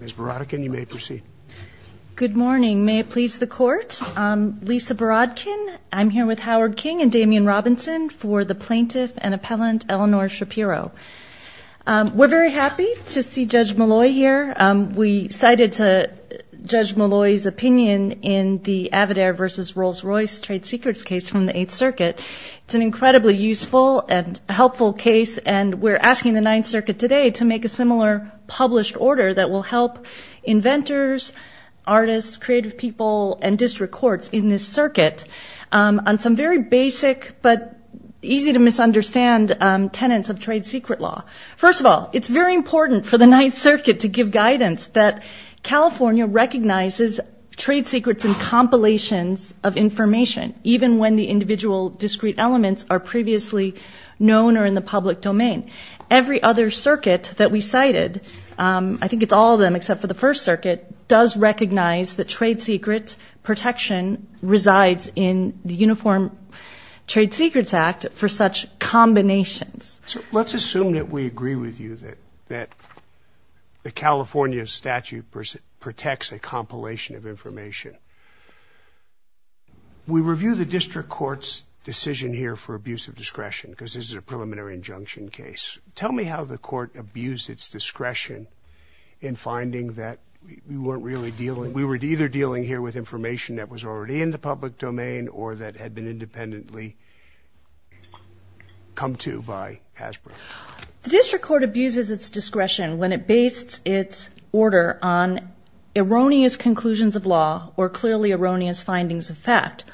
Ms. Borodkin, you may proceed. Good morning. May it please the Court, Lisa Borodkin, I'm here with Howard King and Damian Robinson for the plaintiff and appellant, Elinor Shapiro. We're very happy to see Judge Malloy here. We cited Judge Malloy's opinion in the Avidare v. Rolls-Royce trade secrets case from the Eighth Circuit. It's an incredibly useful and helpful case and we're asking the Ninth Circuit today to make a similar published order that will help inventors, artists, creative people, and district courts in this circuit on some very basic but easy to misunderstand tenets of trade secret law. First of all, it's very important for the Ninth Circuit to give guidance that California recognizes trade secrets in compilations of information, even when the individual discrete elements are previously known or in the public domain. Every other circuit that we cited, I think it's all of them except for the First Circuit, does recognize that trade secret protection resides in the Uniform Trade Secrets Act for such combinations. Let's assume that we agree with you that the California statute protects a compilation of information. We review the district court's decision here for abuse of discretion because this is a preliminary injunction case. Tell me how the court abused its discretion in finding that we weren't really dealing – we were either dealing here with information that was already in the public domain or that The district court abuses its discretion when it bases its order on erroneous conclusions of law or clearly erroneous findings of fact.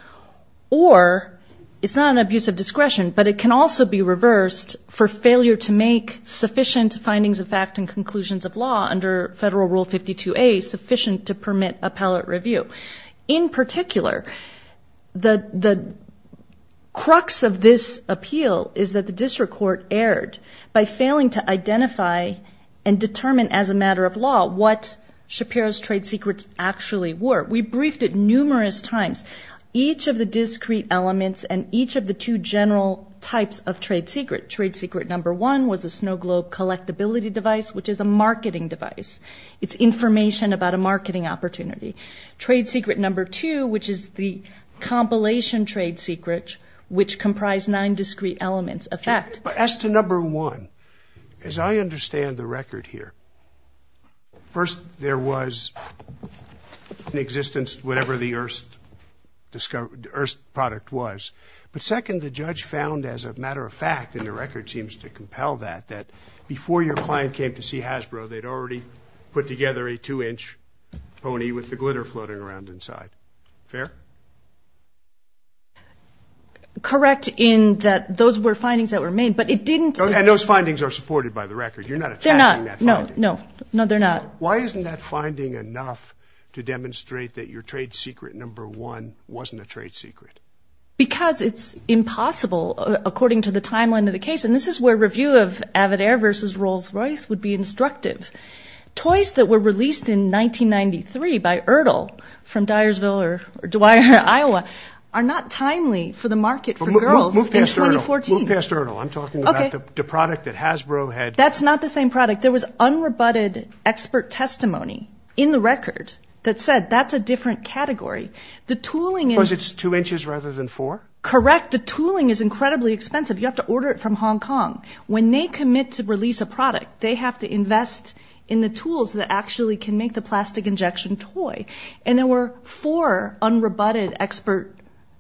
Or it's not an abuse of discretion, but it can also be reversed for failure to make sufficient findings of fact and conclusions of law under Federal Rule 52A sufficient to permit appellate review. In particular, the crux of this appeal is that the district court erred by failing to identify and determine as a matter of law what Shapiro's trade secrets actually were. We briefed it numerous times, each of the discrete elements and each of the two general types of trade secret. Trade secret number one was a snow globe collectability device, which is a marketing device. It's information about a marketing opportunity. Trade secret number two, which is the compilation trade secret, which comprised nine discrete elements of fact. As to number one, as I understand the record here, first there was in existence whatever the erst product was, but second the judge found as a matter of fact, and the record seems to compel that, that before your client came to see Hasbro, they'd already put together a two-inch pony with the glitter floating around inside. Fair? Correct in that those were findings that were made, but it didn't... And those findings are supported by the record. You're not attacking that finding. They're not. No, no. No, they're not. Why isn't that finding enough to demonstrate that your trade secret number one wasn't a trade secret? Because it's impossible according to the timeline of the case, and this is where review of Avid Air versus Rolls-Royce would be instructive. Toys that were released in 1993 by Ertl from Dyersville or Dwyer, Iowa, are not timely for the market for girls in 2014. Move past Ertl. Move past Ertl. I'm talking about the product that Hasbro had. That's not the same product. There was unrebutted expert testimony in the record that said that's a different category. The tooling in... Because it's two inches rather than four? Correct. The tooling is incredibly expensive. You have to order it from Hong Kong. When they commit to release a product, they have to invest in the tools that actually can make the plastic injection toy. And there were four unrebutted expert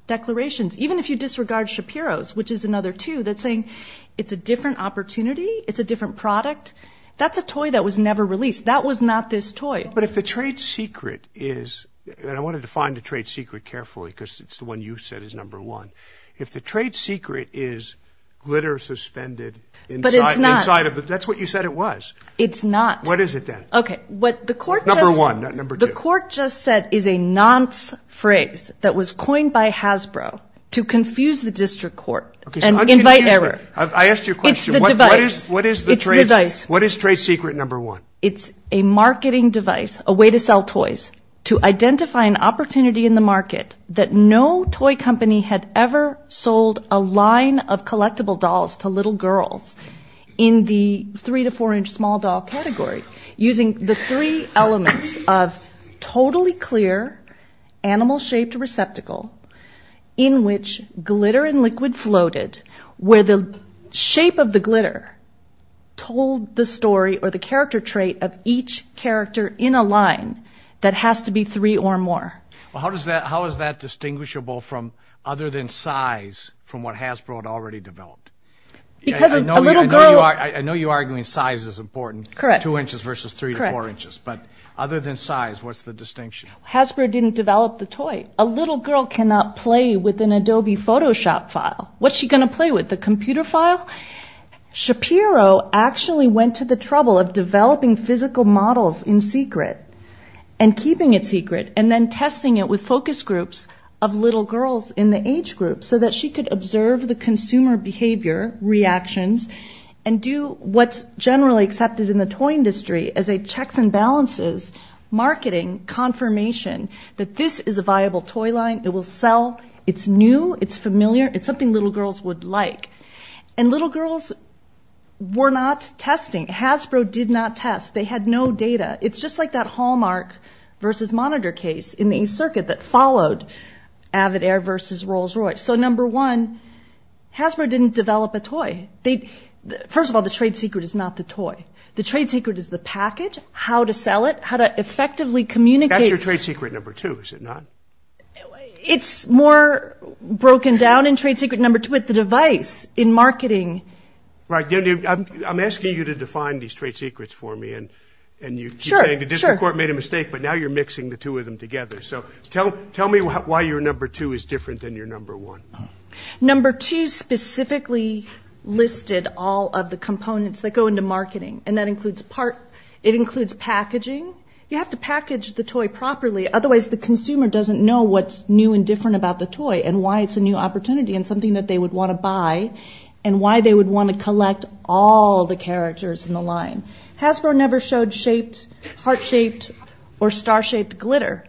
declarations. Even if you disregard Shapiro's, which is another two, that's saying it's a different opportunity, it's a different product. That's a toy that was never released. That was not this toy. But if the trade secret is, and I want to define the trade secret carefully because it's the one you said is number one. If the trade secret is glitter suspended inside of the... That's what you said it was. It's not. What is it then? Okay. What the court just... Number one, not number two. The court just said is a nonce phrase that was coined by Hasbro to confuse the district court and invite error. I asked you a question. It's the device. It's the device. What is trade secret number one? It's a marketing device, a way to sell toys to identify an opportunity in the market that no toy company had ever sold a line of collectible dolls to little girls in the three to four inch small doll category using the three elements of totally clear animal shaped receptacle in which glitter and liquid floated where the shape of the glitter told the story or the character trait of each character in a line that has to be three or more. Well, how does that... How is that distinguishable from other than size from what Hasbro had already developed? Because a little girl... I know you're arguing size is important. Correct. Two inches versus three to four inches. Correct. But other than size, what's the distinction? Hasbro didn't develop the toy. A little girl cannot play with an Adobe Photoshop file. What's she going to play with? The computer file? Shapiro actually went to the trouble of developing physical models in secret and keeping it secret and then testing it with focus groups of little girls in the age group so that she could observe the consumer behavior reactions and do what's generally accepted in the toy industry as a checks and balances marketing confirmation that this is a viable toy line, it will sell, it's new, it's familiar, it's something little girls would like. And little girls were not testing. Hasbro did not test. They had no data. It's just like that Hallmark versus Monitor case in the East Circuit that followed Avid Air versus Rolls-Royce. So number one, Hasbro didn't develop a toy. First of all, the trade secret is not the toy. The trade secret is the package, how to sell it, how to effectively communicate... That's your trade secret number two, is it not? It's more broken down in trade secret number two with the device in marketing. Right. I'm asking you to define these trade secrets for me and you keep saying the district court made a mistake but now you're mixing the two of them together. So tell me why your number two is different than your number one. Number two specifically listed all of the components that go into marketing and that includes part... It includes packaging. You have to package the toy properly otherwise the consumer doesn't know what's new and different about the toy and why it's a new opportunity and something that they would want to buy and why they would want to collect all the characters in the line. Hasbro never showed shaped, heart-shaped or star-shaped glitter.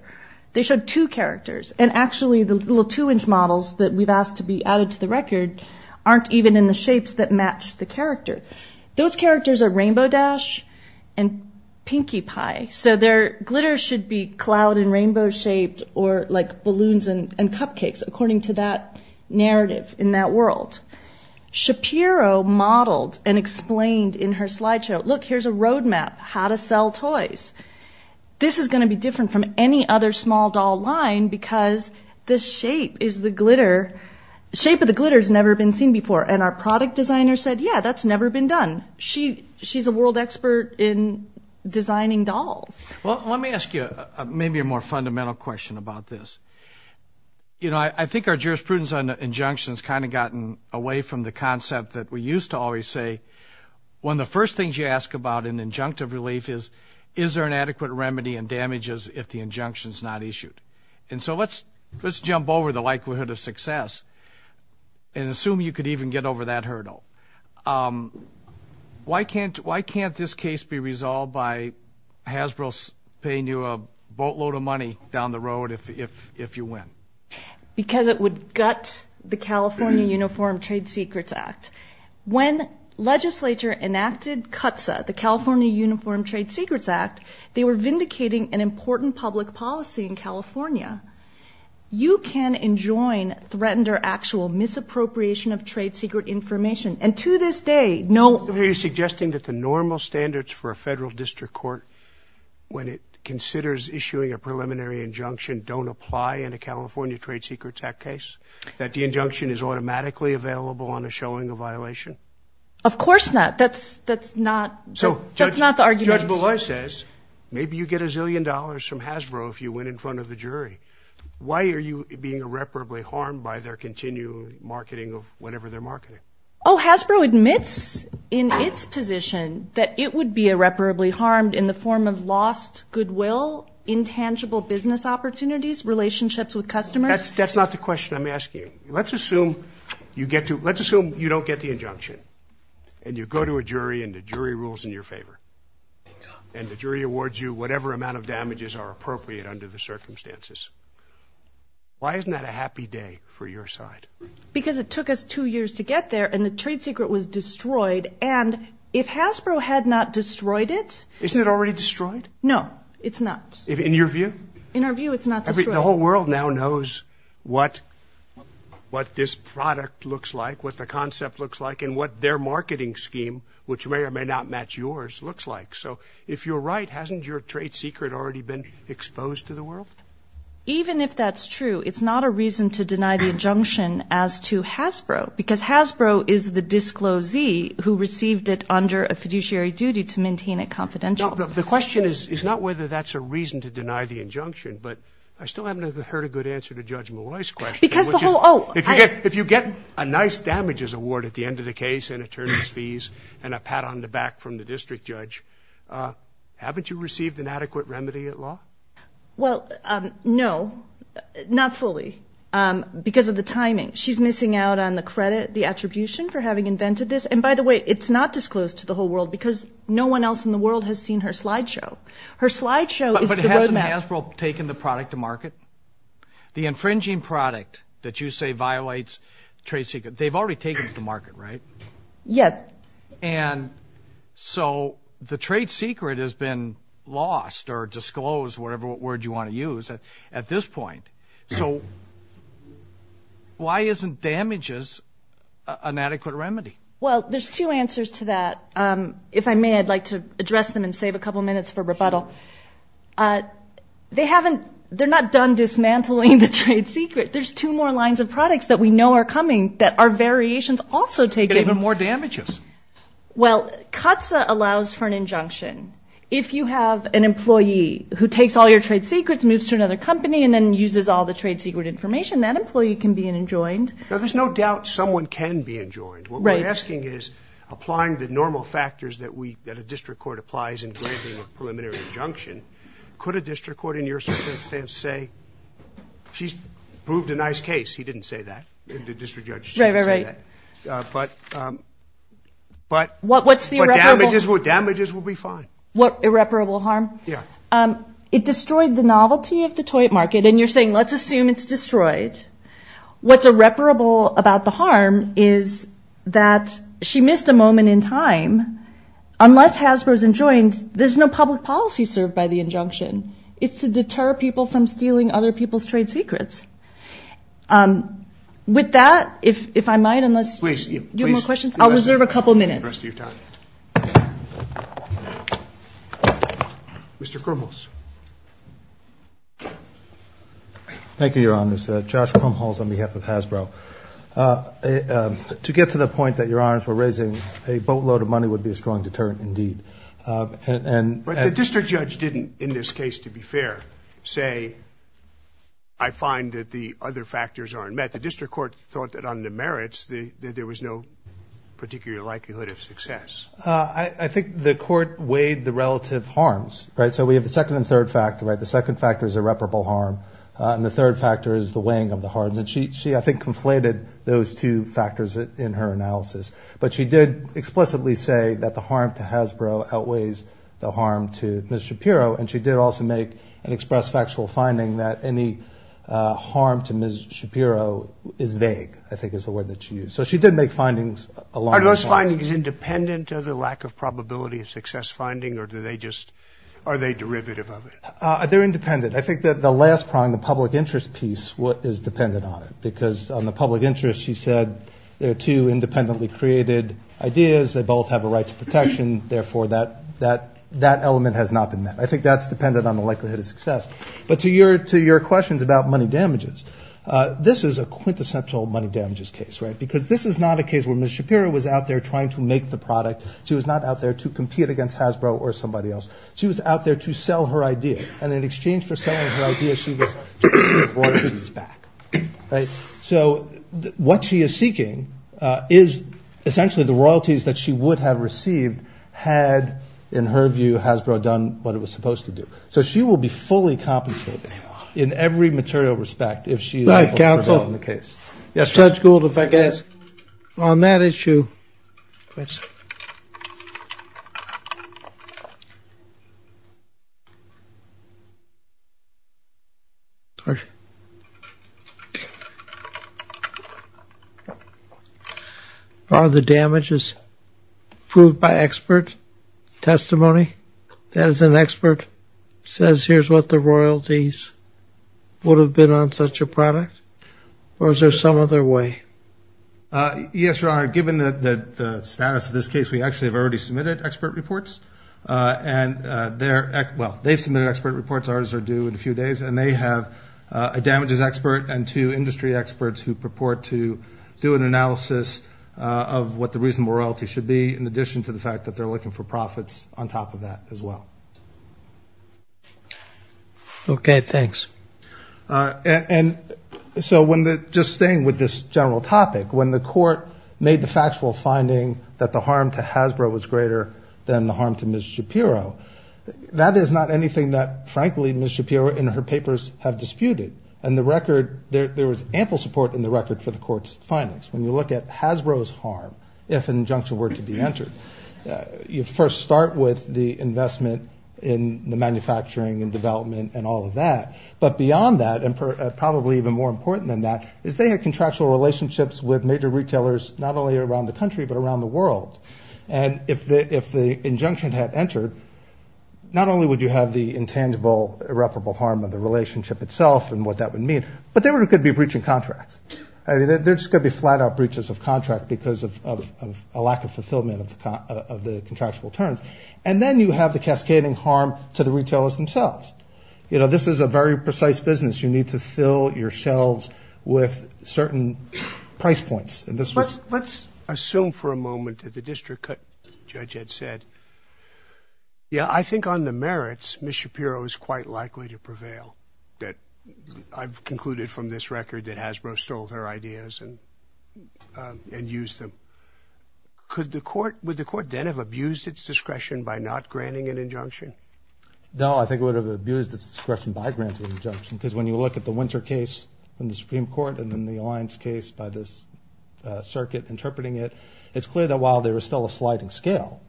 They showed two characters and actually the little two-inch models that we've asked to be added to the record aren't even in the shapes that match the character. Those characters are Rainbow Dash and Pinkie Pie so their glitter should be cloud and rainbow shaped or like balloons and cupcakes according to that narrative in that world. Shapiro modeled and explained in her slideshow, look here's a road map how to sell toys. This is going to be different from any other small doll line because the shape is the glitter. Shape of the glitter has never been seen before and our product designer said, yeah, that's never been done. She's a world expert in designing dolls. Let me ask you maybe a more fundamental question about this. I think our jurisprudence on injunctions kind of gotten away from the concept that we used to always say, one of the first things you ask about in injunctive relief is, is there an adequate remedy and damages if the injunction's not issued? And so let's jump over the likelihood of success and assume you could even get over that hurdle. Why can't, why can't this case be resolved by Hasbro paying you a boatload of money down the road if, if, if you win? Because it would gut the California Uniform Trade Secrets Act. When legislature enacted CUTSA, the California Uniform Trade Secrets Act, they were vindicating an important public policy in California. You can enjoin threatened or actual misappropriation of trade secret information. And to this day, no- So are you suggesting that the normal standards for a federal district court, when it considers issuing a preliminary injunction, don't apply in a California Trade Secrets Act case? That the injunction is automatically available on a showing of violation? Of course not. That's, that's not, that's not the argument. Judge Belay says, maybe you get a zillion dollars from Hasbro if you win in front of the jury. Why are you being irreparably harmed by their continued marketing of whatever they're marketing? Oh, Hasbro admits in its position that it would be irreparably harmed in the form of lost goodwill, intangible business opportunities, relationships with customers. That's not the question I'm asking. Let's assume you get to, let's assume you don't get the injunction and you go to a jury and the jury rules in your favor. And the jury awards you whatever amount of damages are appropriate under the circumstances. Why isn't that a happy day for your side? Because it took us two years to get there and the trade secret was destroyed. And if Hasbro had not destroyed it- Isn't it already destroyed? No, it's not. In your view? In our view, it's not destroyed. The whole world now knows what, what this product looks like, what the concept looks like, and what their marketing scheme, which may or may not match yours, looks like. So if you're right, hasn't your trade secret already been exposed to the world? Even if that's true, it's not a reason to deny the injunction as to Hasbro because Hasbro is the disclosee who received it under a fiduciary duty to maintain it confidential. The question is, is not whether that's a reason to deny the injunction, but I still haven't heard a good answer to Judge Malloy's question, which is, if you get a nice damages award at the end of the case, and attorney's fees, and a pat on the back from the district judge, haven't you received an adequate remedy at law? Well, no. Not fully. Because of the timing. She's missing out on the credit, the attribution for having invented this. And by the way, it's not disclosed to the whole world because no one else in the world has seen her slideshow. Her slideshow is- But hasn't Hasbro taken the product to market? The infringing product that you say violates trade secret, they've already taken it to market, right? Yes. And so the trade secret has been lost or disclosed, whatever word you want to use, at this point. So why isn't damages an adequate remedy? Well, there's two answers to that. If I may, I'd like to address them and save a couple minutes for rebuttal. They haven't- they're not done dismantling the trade secret. There's two more lines of products that we know are coming that are variations also taking- And even more damages. Well, CAATSA allows for an injunction. If you have an employee who takes all your trade secrets, moves to another company, and then uses all the trade secret information, that employee can be enjoined. Now, there's no doubt someone can be enjoined. Right. What we're asking is, applying the normal factors that a district court applies in granting a preliminary injunction, could a district court in your circumstance say, she's proved a nice case. He didn't say that. The district judge didn't say that. Right, right, right. But- What's the irreparable- But damages will be fine. What irreparable harm? Yeah. It destroyed the novelty of the toy market. And you're saying, let's assume it's destroyed. What's irreparable about the harm is that she missed a moment in time. Unless Hasbro's enjoined, there's no public policy served by the injunction. It's to deter people from stealing other people's trade secrets. With that, if I might, unless- Please. Do you have more questions? I'll reserve a couple minutes. The rest of your time. Mr. Krumholz. Thank you, Your Honors. Josh Krumholz on behalf of Hasbro. To get to the point that Your Honors were raising, a boatload of money would be a strong deterrent indeed. And- But the district judge didn't, in this case, to be fair, say, I find that the other factors aren't met. The district court thought that on the merits, there was no particular likelihood of success. I think the court weighed the relative harms. Right? So we have the second and third factor. Right? The second factor is irreparable harm. And the third factor is the weighing of the harms. And she, I think, conflated those two factors in her analysis. But she did explicitly say that the harm to Hasbro outweighs the harm to Ms. Shapiro. And she did also make an express factual finding that any harm to Ms. Shapiro is vague, I think is the word that she used. So she did make findings along those lines. Are those findings independent of the lack of probability of success finding? Or do they just, are they derivative of it? They're independent. I think that the last prong, the public interest piece, is dependent on it. Because on the public interest, she said, they're two independently created ideas. They both have a right to protection. Therefore, that element has not been met. I think that's dependent on the likelihood of success. But to your questions about money damages, this is a quintessential money damages case. Right? Because this is not a case where Ms. Shapiro was out there trying to make the product. She was not out there to compete against Hasbro or somebody else. She was out there to sell her idea. And in exchange for selling her idea, she received royalties back. So what she is seeking is essentially the royalties that she would have received had, in her view, Hasbro done what it was supposed to do. So she will be fully compensated in every material respect if she is able to prevent the case. Right, counsel. Judge Gould, if I could ask. On that issue, are the damages proved by expert testimony? That is, an expert says, here's what the royalties would have been on such a product? Or is there some other way? Yes, Your Honor. Given the status of this case, we actually have already submitted expert reports. And they're, well, they've submitted expert reports. Ours are due in a few days. And they have a damages expert and two industry experts who purport to do an analysis of what the reasonable royalties should be, in addition to the fact that they're looking for profits on top of that as well. Okay, thanks. And so when the, just staying with this general topic, when the court made the factual finding that the harm to Hasbro was greater than the harm to Ms. Shapiro, that is not anything that, frankly, Ms. Shapiro in her papers have disputed. And the record, there was ample support in the record for the court's findings. When you look at Hasbro's harm, if an injunction were to be entered, you first start with the But beyond that, and probably even more important than that, is they had contractual relationships with major retailers, not only around the country, but around the world. And if the injunction had entered, not only would you have the intangible, irreparable harm of the relationship itself and what that would mean, but they could be breaching contracts. I mean, they're just going to be flat-out breaches of contract because of a lack of fulfillment of the contractual terms. And then you have the cascading harm to the retailers themselves. You know, this is a very precise business. You need to fill your shelves with certain price points. And this was... Let's assume for a moment that the district judge had said, yeah, I think on the merits, Ms. Shapiro is quite likely to prevail, that I've concluded from this record that Hasbro stole her ideas and used them. Could the court, would the court then have abused its discretion by not granting an injunction? No, I think it would have abused its discretion by granting an injunction because when you look at the Winter case in the Supreme Court and then the Alliance case by this circuit interpreting it, it's clear that while there is still a sliding scale,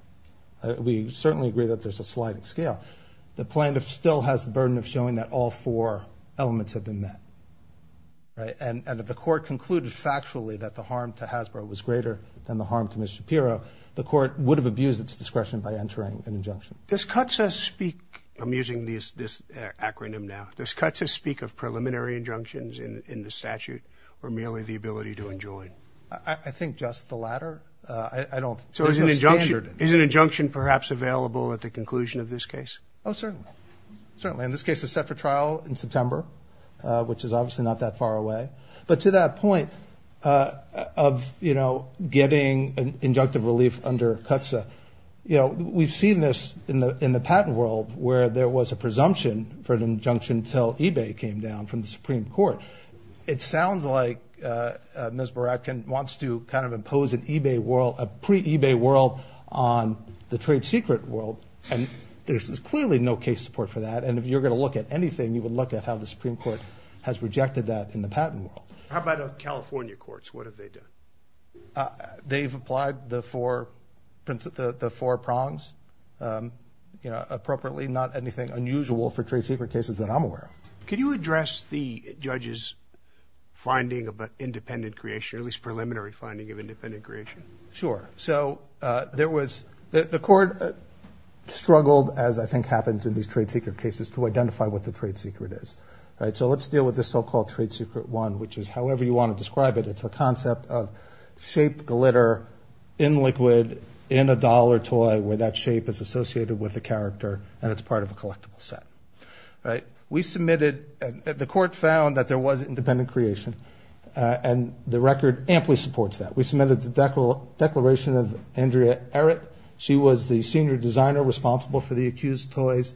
we certainly agree that there's a sliding scale, the plaintiff still has the burden of showing that all four elements have been met, right? And if the court concluded factually that the harm to Hasbro was greater than the harm to Ms. Shapiro, the court would have abused its discretion by entering an injunction. Does CUTSA speak, I'm using this acronym now, does CUTSA speak of preliminary injunctions in the statute or merely the ability to enjoin? I think just the latter. I don't... So is an injunction perhaps available at the conclusion of this case? Oh, certainly. Certainly. And this case is set for trial in September, which is obviously not that far away. But to that point of, you know, getting an injunctive relief under CUTSA, you know, we've seen this in the patent world where there was a presumption for an injunction until eBay came down from the Supreme Court. It sounds like Ms. Baratkin wants to kind of impose an eBay world, a pre-eBay world on the trade secret world. And there's clearly no case support for that. And if you're going to look at anything, you would look at how the Supreme Court has rejected that in the patent world. How about California courts? What have they done? They've applied the four prongs, you know, appropriately. Not anything unusual for trade secret cases that I'm aware of. Can you address the judge's finding of an independent creation, at least preliminary finding of independent creation? Sure. So there was... The court struggled, as I think happens in these trade secret cases, to identify what the trade secret is, right? So let's deal with this so-called trade secret one, which is however you want to describe it. It's a concept of shaped glitter in liquid in a dollar toy where that shape is associated with the character and it's part of a collectible set, right? We submitted... The court found that there was independent creation and the record amply supports that. We submitted the declaration of Andrea Errett. She was the senior designer responsible for the accused toys.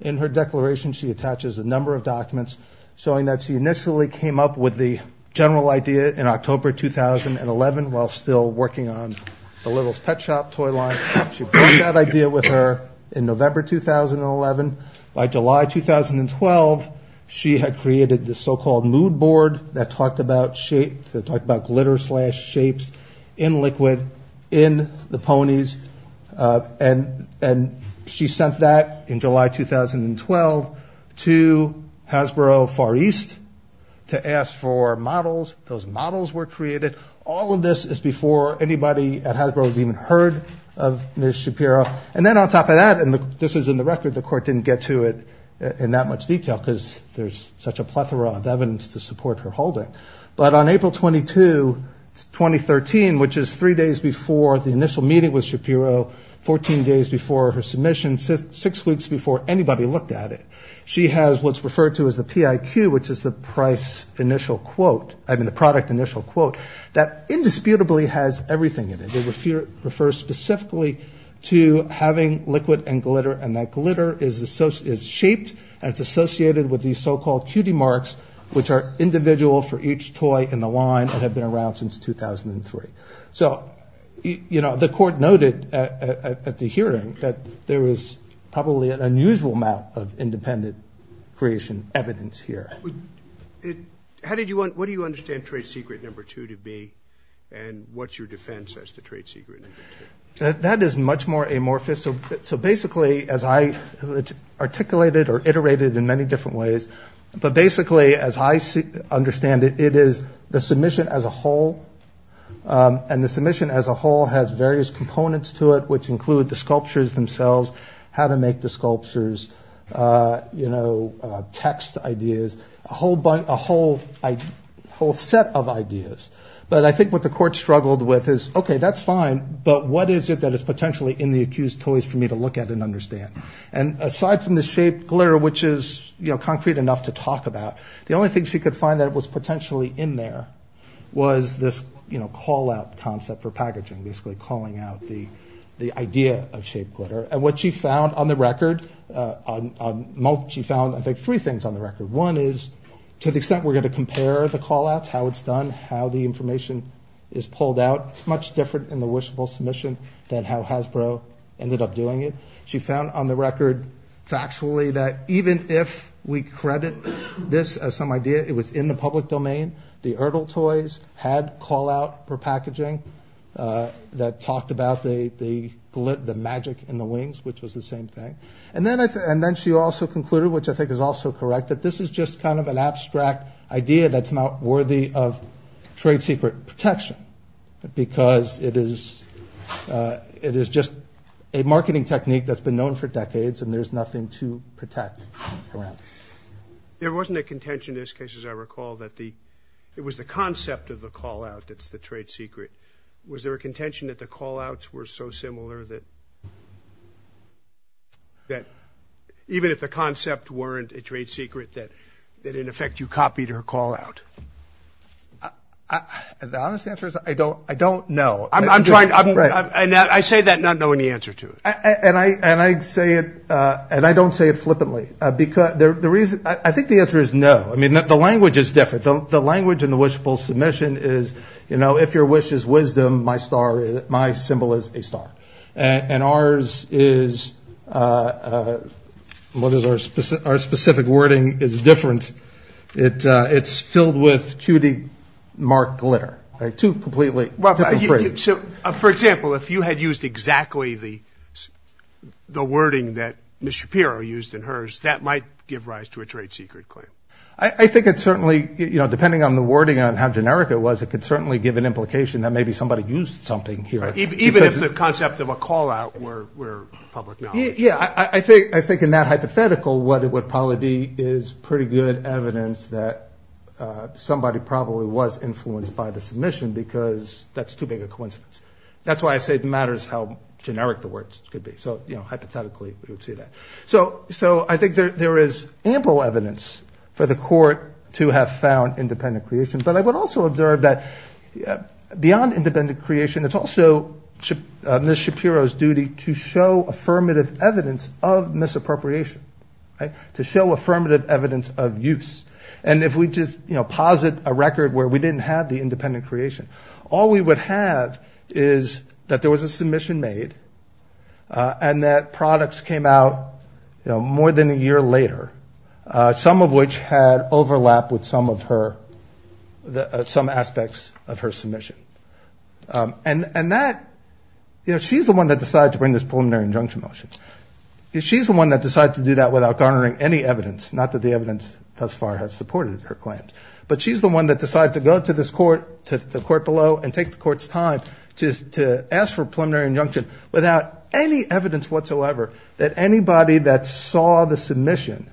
In her declaration, she attaches a number of documents showing that she initially came up with the general idea in October 2011 while still working on the Littles Pet Shop toy line. She brought that idea with her in November 2011. By July 2012, she had created the so-called mood board that talked about glitter slash shapes in liquid in the ponies. And she sent that in July 2012 to Hasbro Far East to ask for models. Those models were created. All of this is before anybody at Hasbro has even heard of Ms. Shapiro. And then on top of that, and this is in the record, the court didn't get to it in that much detail because there's such a plethora of evidence to support her holding. But on April 22, 2013, which is three days before the initial meeting with Shapiro, 14 days before her submission, six weeks before anybody looked at it, she has what's referred to as the PIQ, which is the price initial quote, I mean the product initial quote, that indisputably has everything in it. It refers specifically to having liquid and glitter and that glitter is shaped and it's individual for each toy in the line that have been around since 2003. So, you know, the court noted at the hearing that there is probably an unusual amount of independent creation evidence here. How did you want, what do you understand trade secret number two to be and what's your defense as to trade secret number two? That is much more amorphous. So basically, as I articulated or iterated in many different ways, but basically as I understand it, it is the submission as a whole and the submission as a whole has various components to it, which include the sculptures themselves, how to make the sculptures, you know, text ideas, a whole set of ideas. But I think what the court struggled with is, okay, that's fine, but what is it that is potentially in the accused toys for me to look at and understand? And aside from the shaped glitter, which is, you know, concrete enough to talk about, the only thing she could find that was potentially in there was this, you know, call-out concept for packaging, basically calling out the idea of shaped glitter. And what she found on the record, she found, I think, three things on the record. One is to the extent we're going to compare the call-outs, how it's done, how the information is pulled out, it's much different in the wishable submission than how Hasbro ended up doing it. She found on the record factually that even if we credit this as some idea, it was in the public domain, the Erdl toys had call-out for packaging that talked about the magic in the wings, which was the same thing. And then she also concluded, which I think is also correct, that this is just kind of an abstract idea that's not worthy of trade secret protection because it is just a marketing technique that's been known for decades and there's nothing to protect around. There wasn't a contention in this case, as I recall, that the – it was the concept of the call-out that's the trade secret. Was there a contention that the call-outs were so similar that – that even if the concept weren't a trade secret, that in effect you copied her call-out? The honest answer is I don't know. I'm trying – I'm – I say that not knowing the answer to it. And I say it – and I don't say it flippantly because the reason – I think the answer is no. I mean, the language is different. The language in the wishful submission is, you know, if your wish is wisdom, my star – my symbol is a star. And ours is – what is our – our specific wording is different. It's filled with cutie mark glitter, two completely different phrases. So, for example, if you had used exactly the wording that Ms. Shapiro used in hers, that might give rise to a trade secret claim. I think it certainly – you know, depending on the wording and how generic it was, it could certainly give an implication that maybe somebody used something here. Even if the concept of a call-out were public knowledge. Yeah. I think in that hypothetical, what it would probably be is pretty good evidence that somebody probably was influenced by the submission because that's too big a coincidence. That's why I say it matters how generic the words could be. So, you know, hypothetically, we would see that. So I think there is ample evidence for the court to have found independent creation. But I would also observe that beyond independent creation, it's also Ms. Shapiro's duty to show affirmative evidence of misappropriation, to show affirmative evidence of use. And if we just, you know, posit a record where we didn't have the independent creation, all we would have is that there was a submission made and that products came out, you know, more than a year later, some of which had overlap with some of her – some aspects of her submission. And that – you know, she's the one that decided to bring this preliminary injunction motion. She's the one that decided to do that without garnering any evidence, not that the evidence thus far has supported her claims. But she's the one that decided to go to this court, to the court below, and take the court's time to ask for a preliminary injunction without any evidence whatsoever that anybody that saw the submission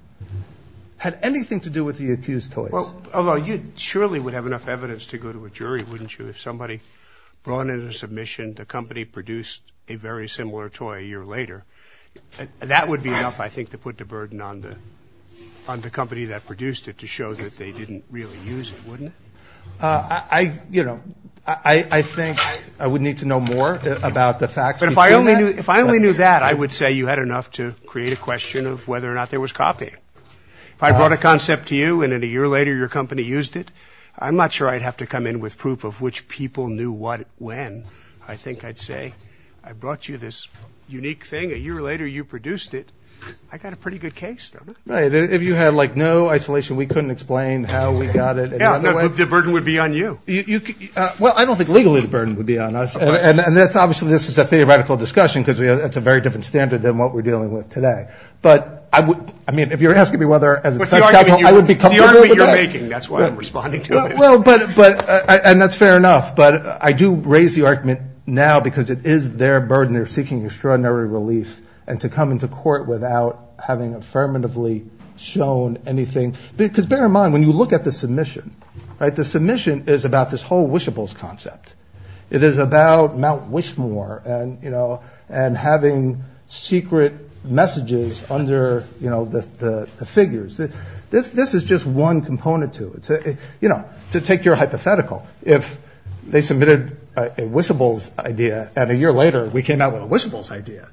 had anything to do with the accused toys. Although, you surely would have enough evidence to go to a jury, wouldn't you, if somebody brought in a submission, the company produced a very similar toy a year later. That would be enough, I think, to put the burden on the – on the company that produced it to show that they didn't really use it, wouldn't it? I – you know, I think I would need to know more about the facts between that. But if I only knew – if I only knew that, I would say you had enough to create a question of whether or not there was copy. If I brought a concept to you and then a year later your company used it, I'm not sure I'd have to come in with proof of which people knew what when. I think I'd say, I brought you this unique thing, a year later you produced it, I got a pretty good case. Right. If you had, like, no isolation, we couldn't explain how we got it. Yeah. The burden would be on you. You – well, I don't think legally the burden would be on us, and that's – obviously this is a theoretical discussion, because we – that's a very different standard than what we're dealing with today. But I would – I mean, if you're asking me whether, as a technical – I would be comfortable with that. It's the argument you're making. That's why I'm responding to it. Well, but – and that's fair enough, but I do raise the argument now because it is their burden. They're seeking extraordinary relief, and to come into court without having affirmatively shown anything – because bear in mind, when you look at the submission, right, the submission is about this whole wishables concept. It is about Mount Wishmore and, you know, and having secret messages under, you know, the figures. This is just one component to it. You know, to take your hypothetical, if they submitted a wishables idea and a year later we came out with a wishables idea,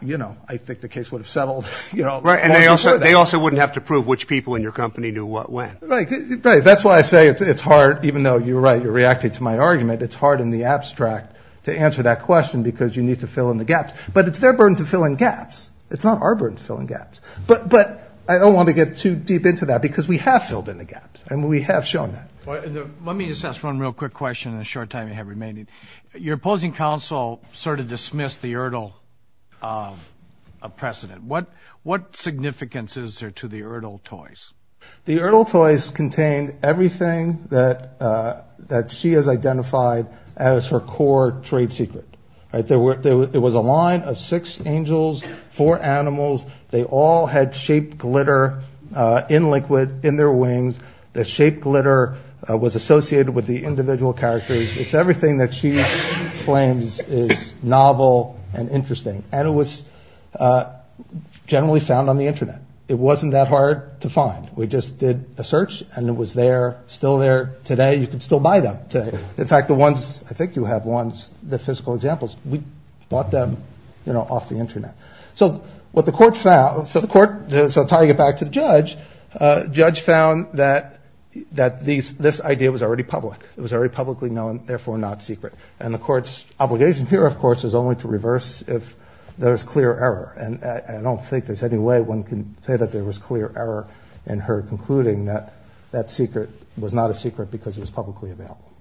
you know, I think the case would have settled, you know, long before that. Right. And they also wouldn't have to prove which people in your company knew what when. Right. Right. That's why I say it's hard – even though you're right, you're reacting to my argument – it's hard in the abstract to answer that question because you need to fill in the gaps. But it's their burden to fill in gaps. It's not our burden to fill in gaps. But I don't want to get too deep into that because we have filled in the gaps and we have shown that. Let me just ask one real quick question in the short time you have remaining. Your opposing counsel sort of dismissed the Erdl precedent. What significance is there to the Erdl toys? The Erdl toys contained everything that she has identified as her core trade secret. Right. There was a line of six angels, four animals. They all had shaped glitter in liquid in their wings. The shaped glitter was associated with the individual characters. It's everything that she claims is novel and interesting. And it was generally found on the Internet. It wasn't that hard to find. We just did a search and it was there, still there today. You can still buy them today. In fact, the ones – I think you have ones, the physical examples – we bought them, you know, off the Internet. So what the court found – so tying it back to the judge, the judge found that this idea was already public. It was already publicly known, therefore not secret. And the court's obligation here, of course, is only to reverse if there is clear error. And I don't think there is any way one can say that there was clear error in her concluding that that secret was not a secret because it was publicly available.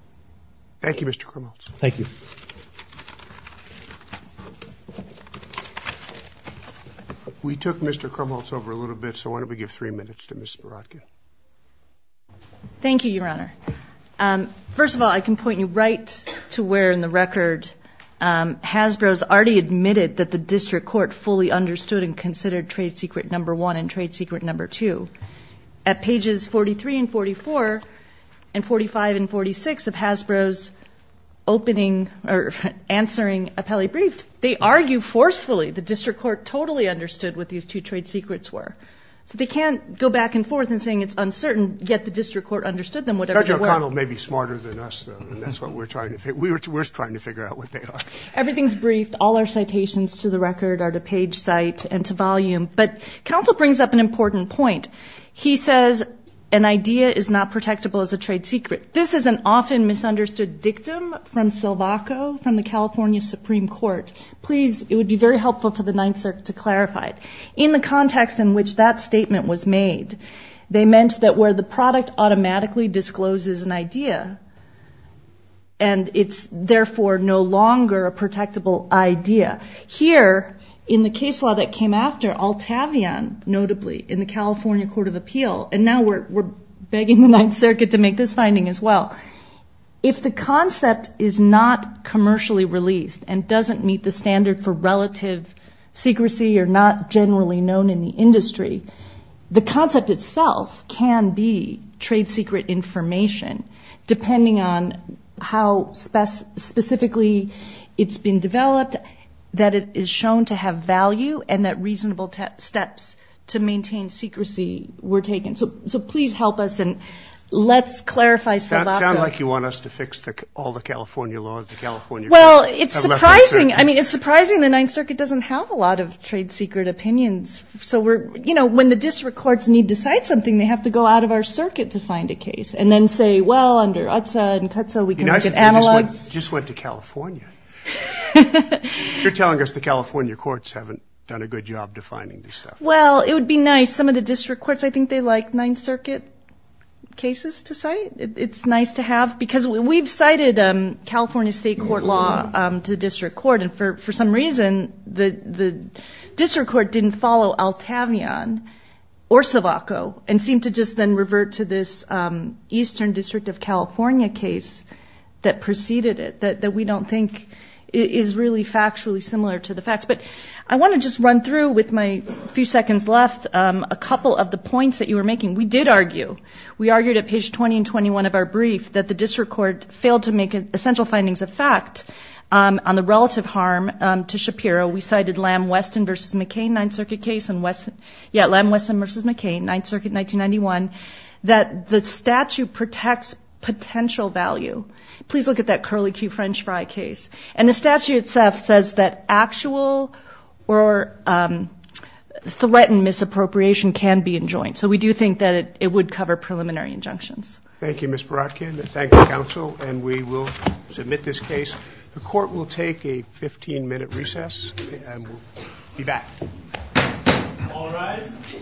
Thank you, Mr. Krumholz. Thank you. We took Mr. Krumholz over a little bit, so why don't we give three minutes to Ms. Spirocki. Thank you, Your Honor. First of all, I can point you right to where in the record Hasbro has already admitted that the district court fully understood and considered trade secret number one and trade secret number two. At pages 43 and 44 and 45 and 46 of Hasbro's opening – or answering appellee brief, they argue forcefully the district court totally understood what these two trade secrets were. So they can't go back and forth in saying it's uncertain, yet the district court understood them whatever they were. Judge O'Connell may be smarter than us, though, and that's what we're trying – we're trying to figure out what they are. Everything's briefed. All our citations to the record are to page site and to volume. But counsel brings up an important point. He says an idea is not protectable as a trade secret. This is an often misunderstood dictum from Silvaco from the California Supreme Court. Please, it would be very helpful for the Ninth Circuit to clarify it. In the context in which that statement was made, they meant that where the product automatically discloses an idea, and it's therefore no longer a protectable idea, here in the case law that came after, Altavion, notably, in the California Court of Appeal – and now we're begging the Ninth Circuit to make this finding as well – if the concept is not commercially released and doesn't meet the standard for relative secrecy or not generally known in the industry, the concept itself can be trade secret information, depending on how specifically it's been developed, that it is shown to have value, and that reasonable steps to maintain secrecy were taken. So please help us, and let's clarify Silvaco. That sounds like you want us to fix all the California laws, the California Court of Appeal. Well, it's surprising. I mean, it's surprising the Ninth Circuit doesn't have a lot of trade secret opinions. So we're – you know, when the district courts need to cite something, they have to go out of our circuit to find a case, and then say, well, under UTSA and CUTSA we can look at analogs. You know, I said they just went to California. You're telling us the California courts haven't done a good job defining this stuff. Well, it would be nice. Some of the district courts, I think they like Ninth Circuit cases to cite. It's nice to have, because we've cited California state court law to the district court, and for some reason, the district court didn't follow Altavion or Silvaco, and seemed to just then revert to this Eastern District of California case that preceded it, that we don't think is really factually similar to the facts. But I want to just run through with my few seconds left a couple of the points that you were making. We did argue. We argued at page 20 and 21 of our brief that the district court failed to make essential findings of fact on the relative harm to Shapiro. We cited Lamb-Weston v. McCain, Ninth Circuit case, and West – yeah, Lamb-Weston v. McCain, Ninth Circuit, 1991, that the statute protects potential value. Please look at that Curly Q. French Fry case. And the statute itself says that actual or threatened misappropriation can be enjoined. So we do think that it would cover preliminary injunctions. Thank you, Ms. Boratkin. Thank you, counsel. And we will submit this case. The court will take a 15-minute recess, and we'll be back. All rise.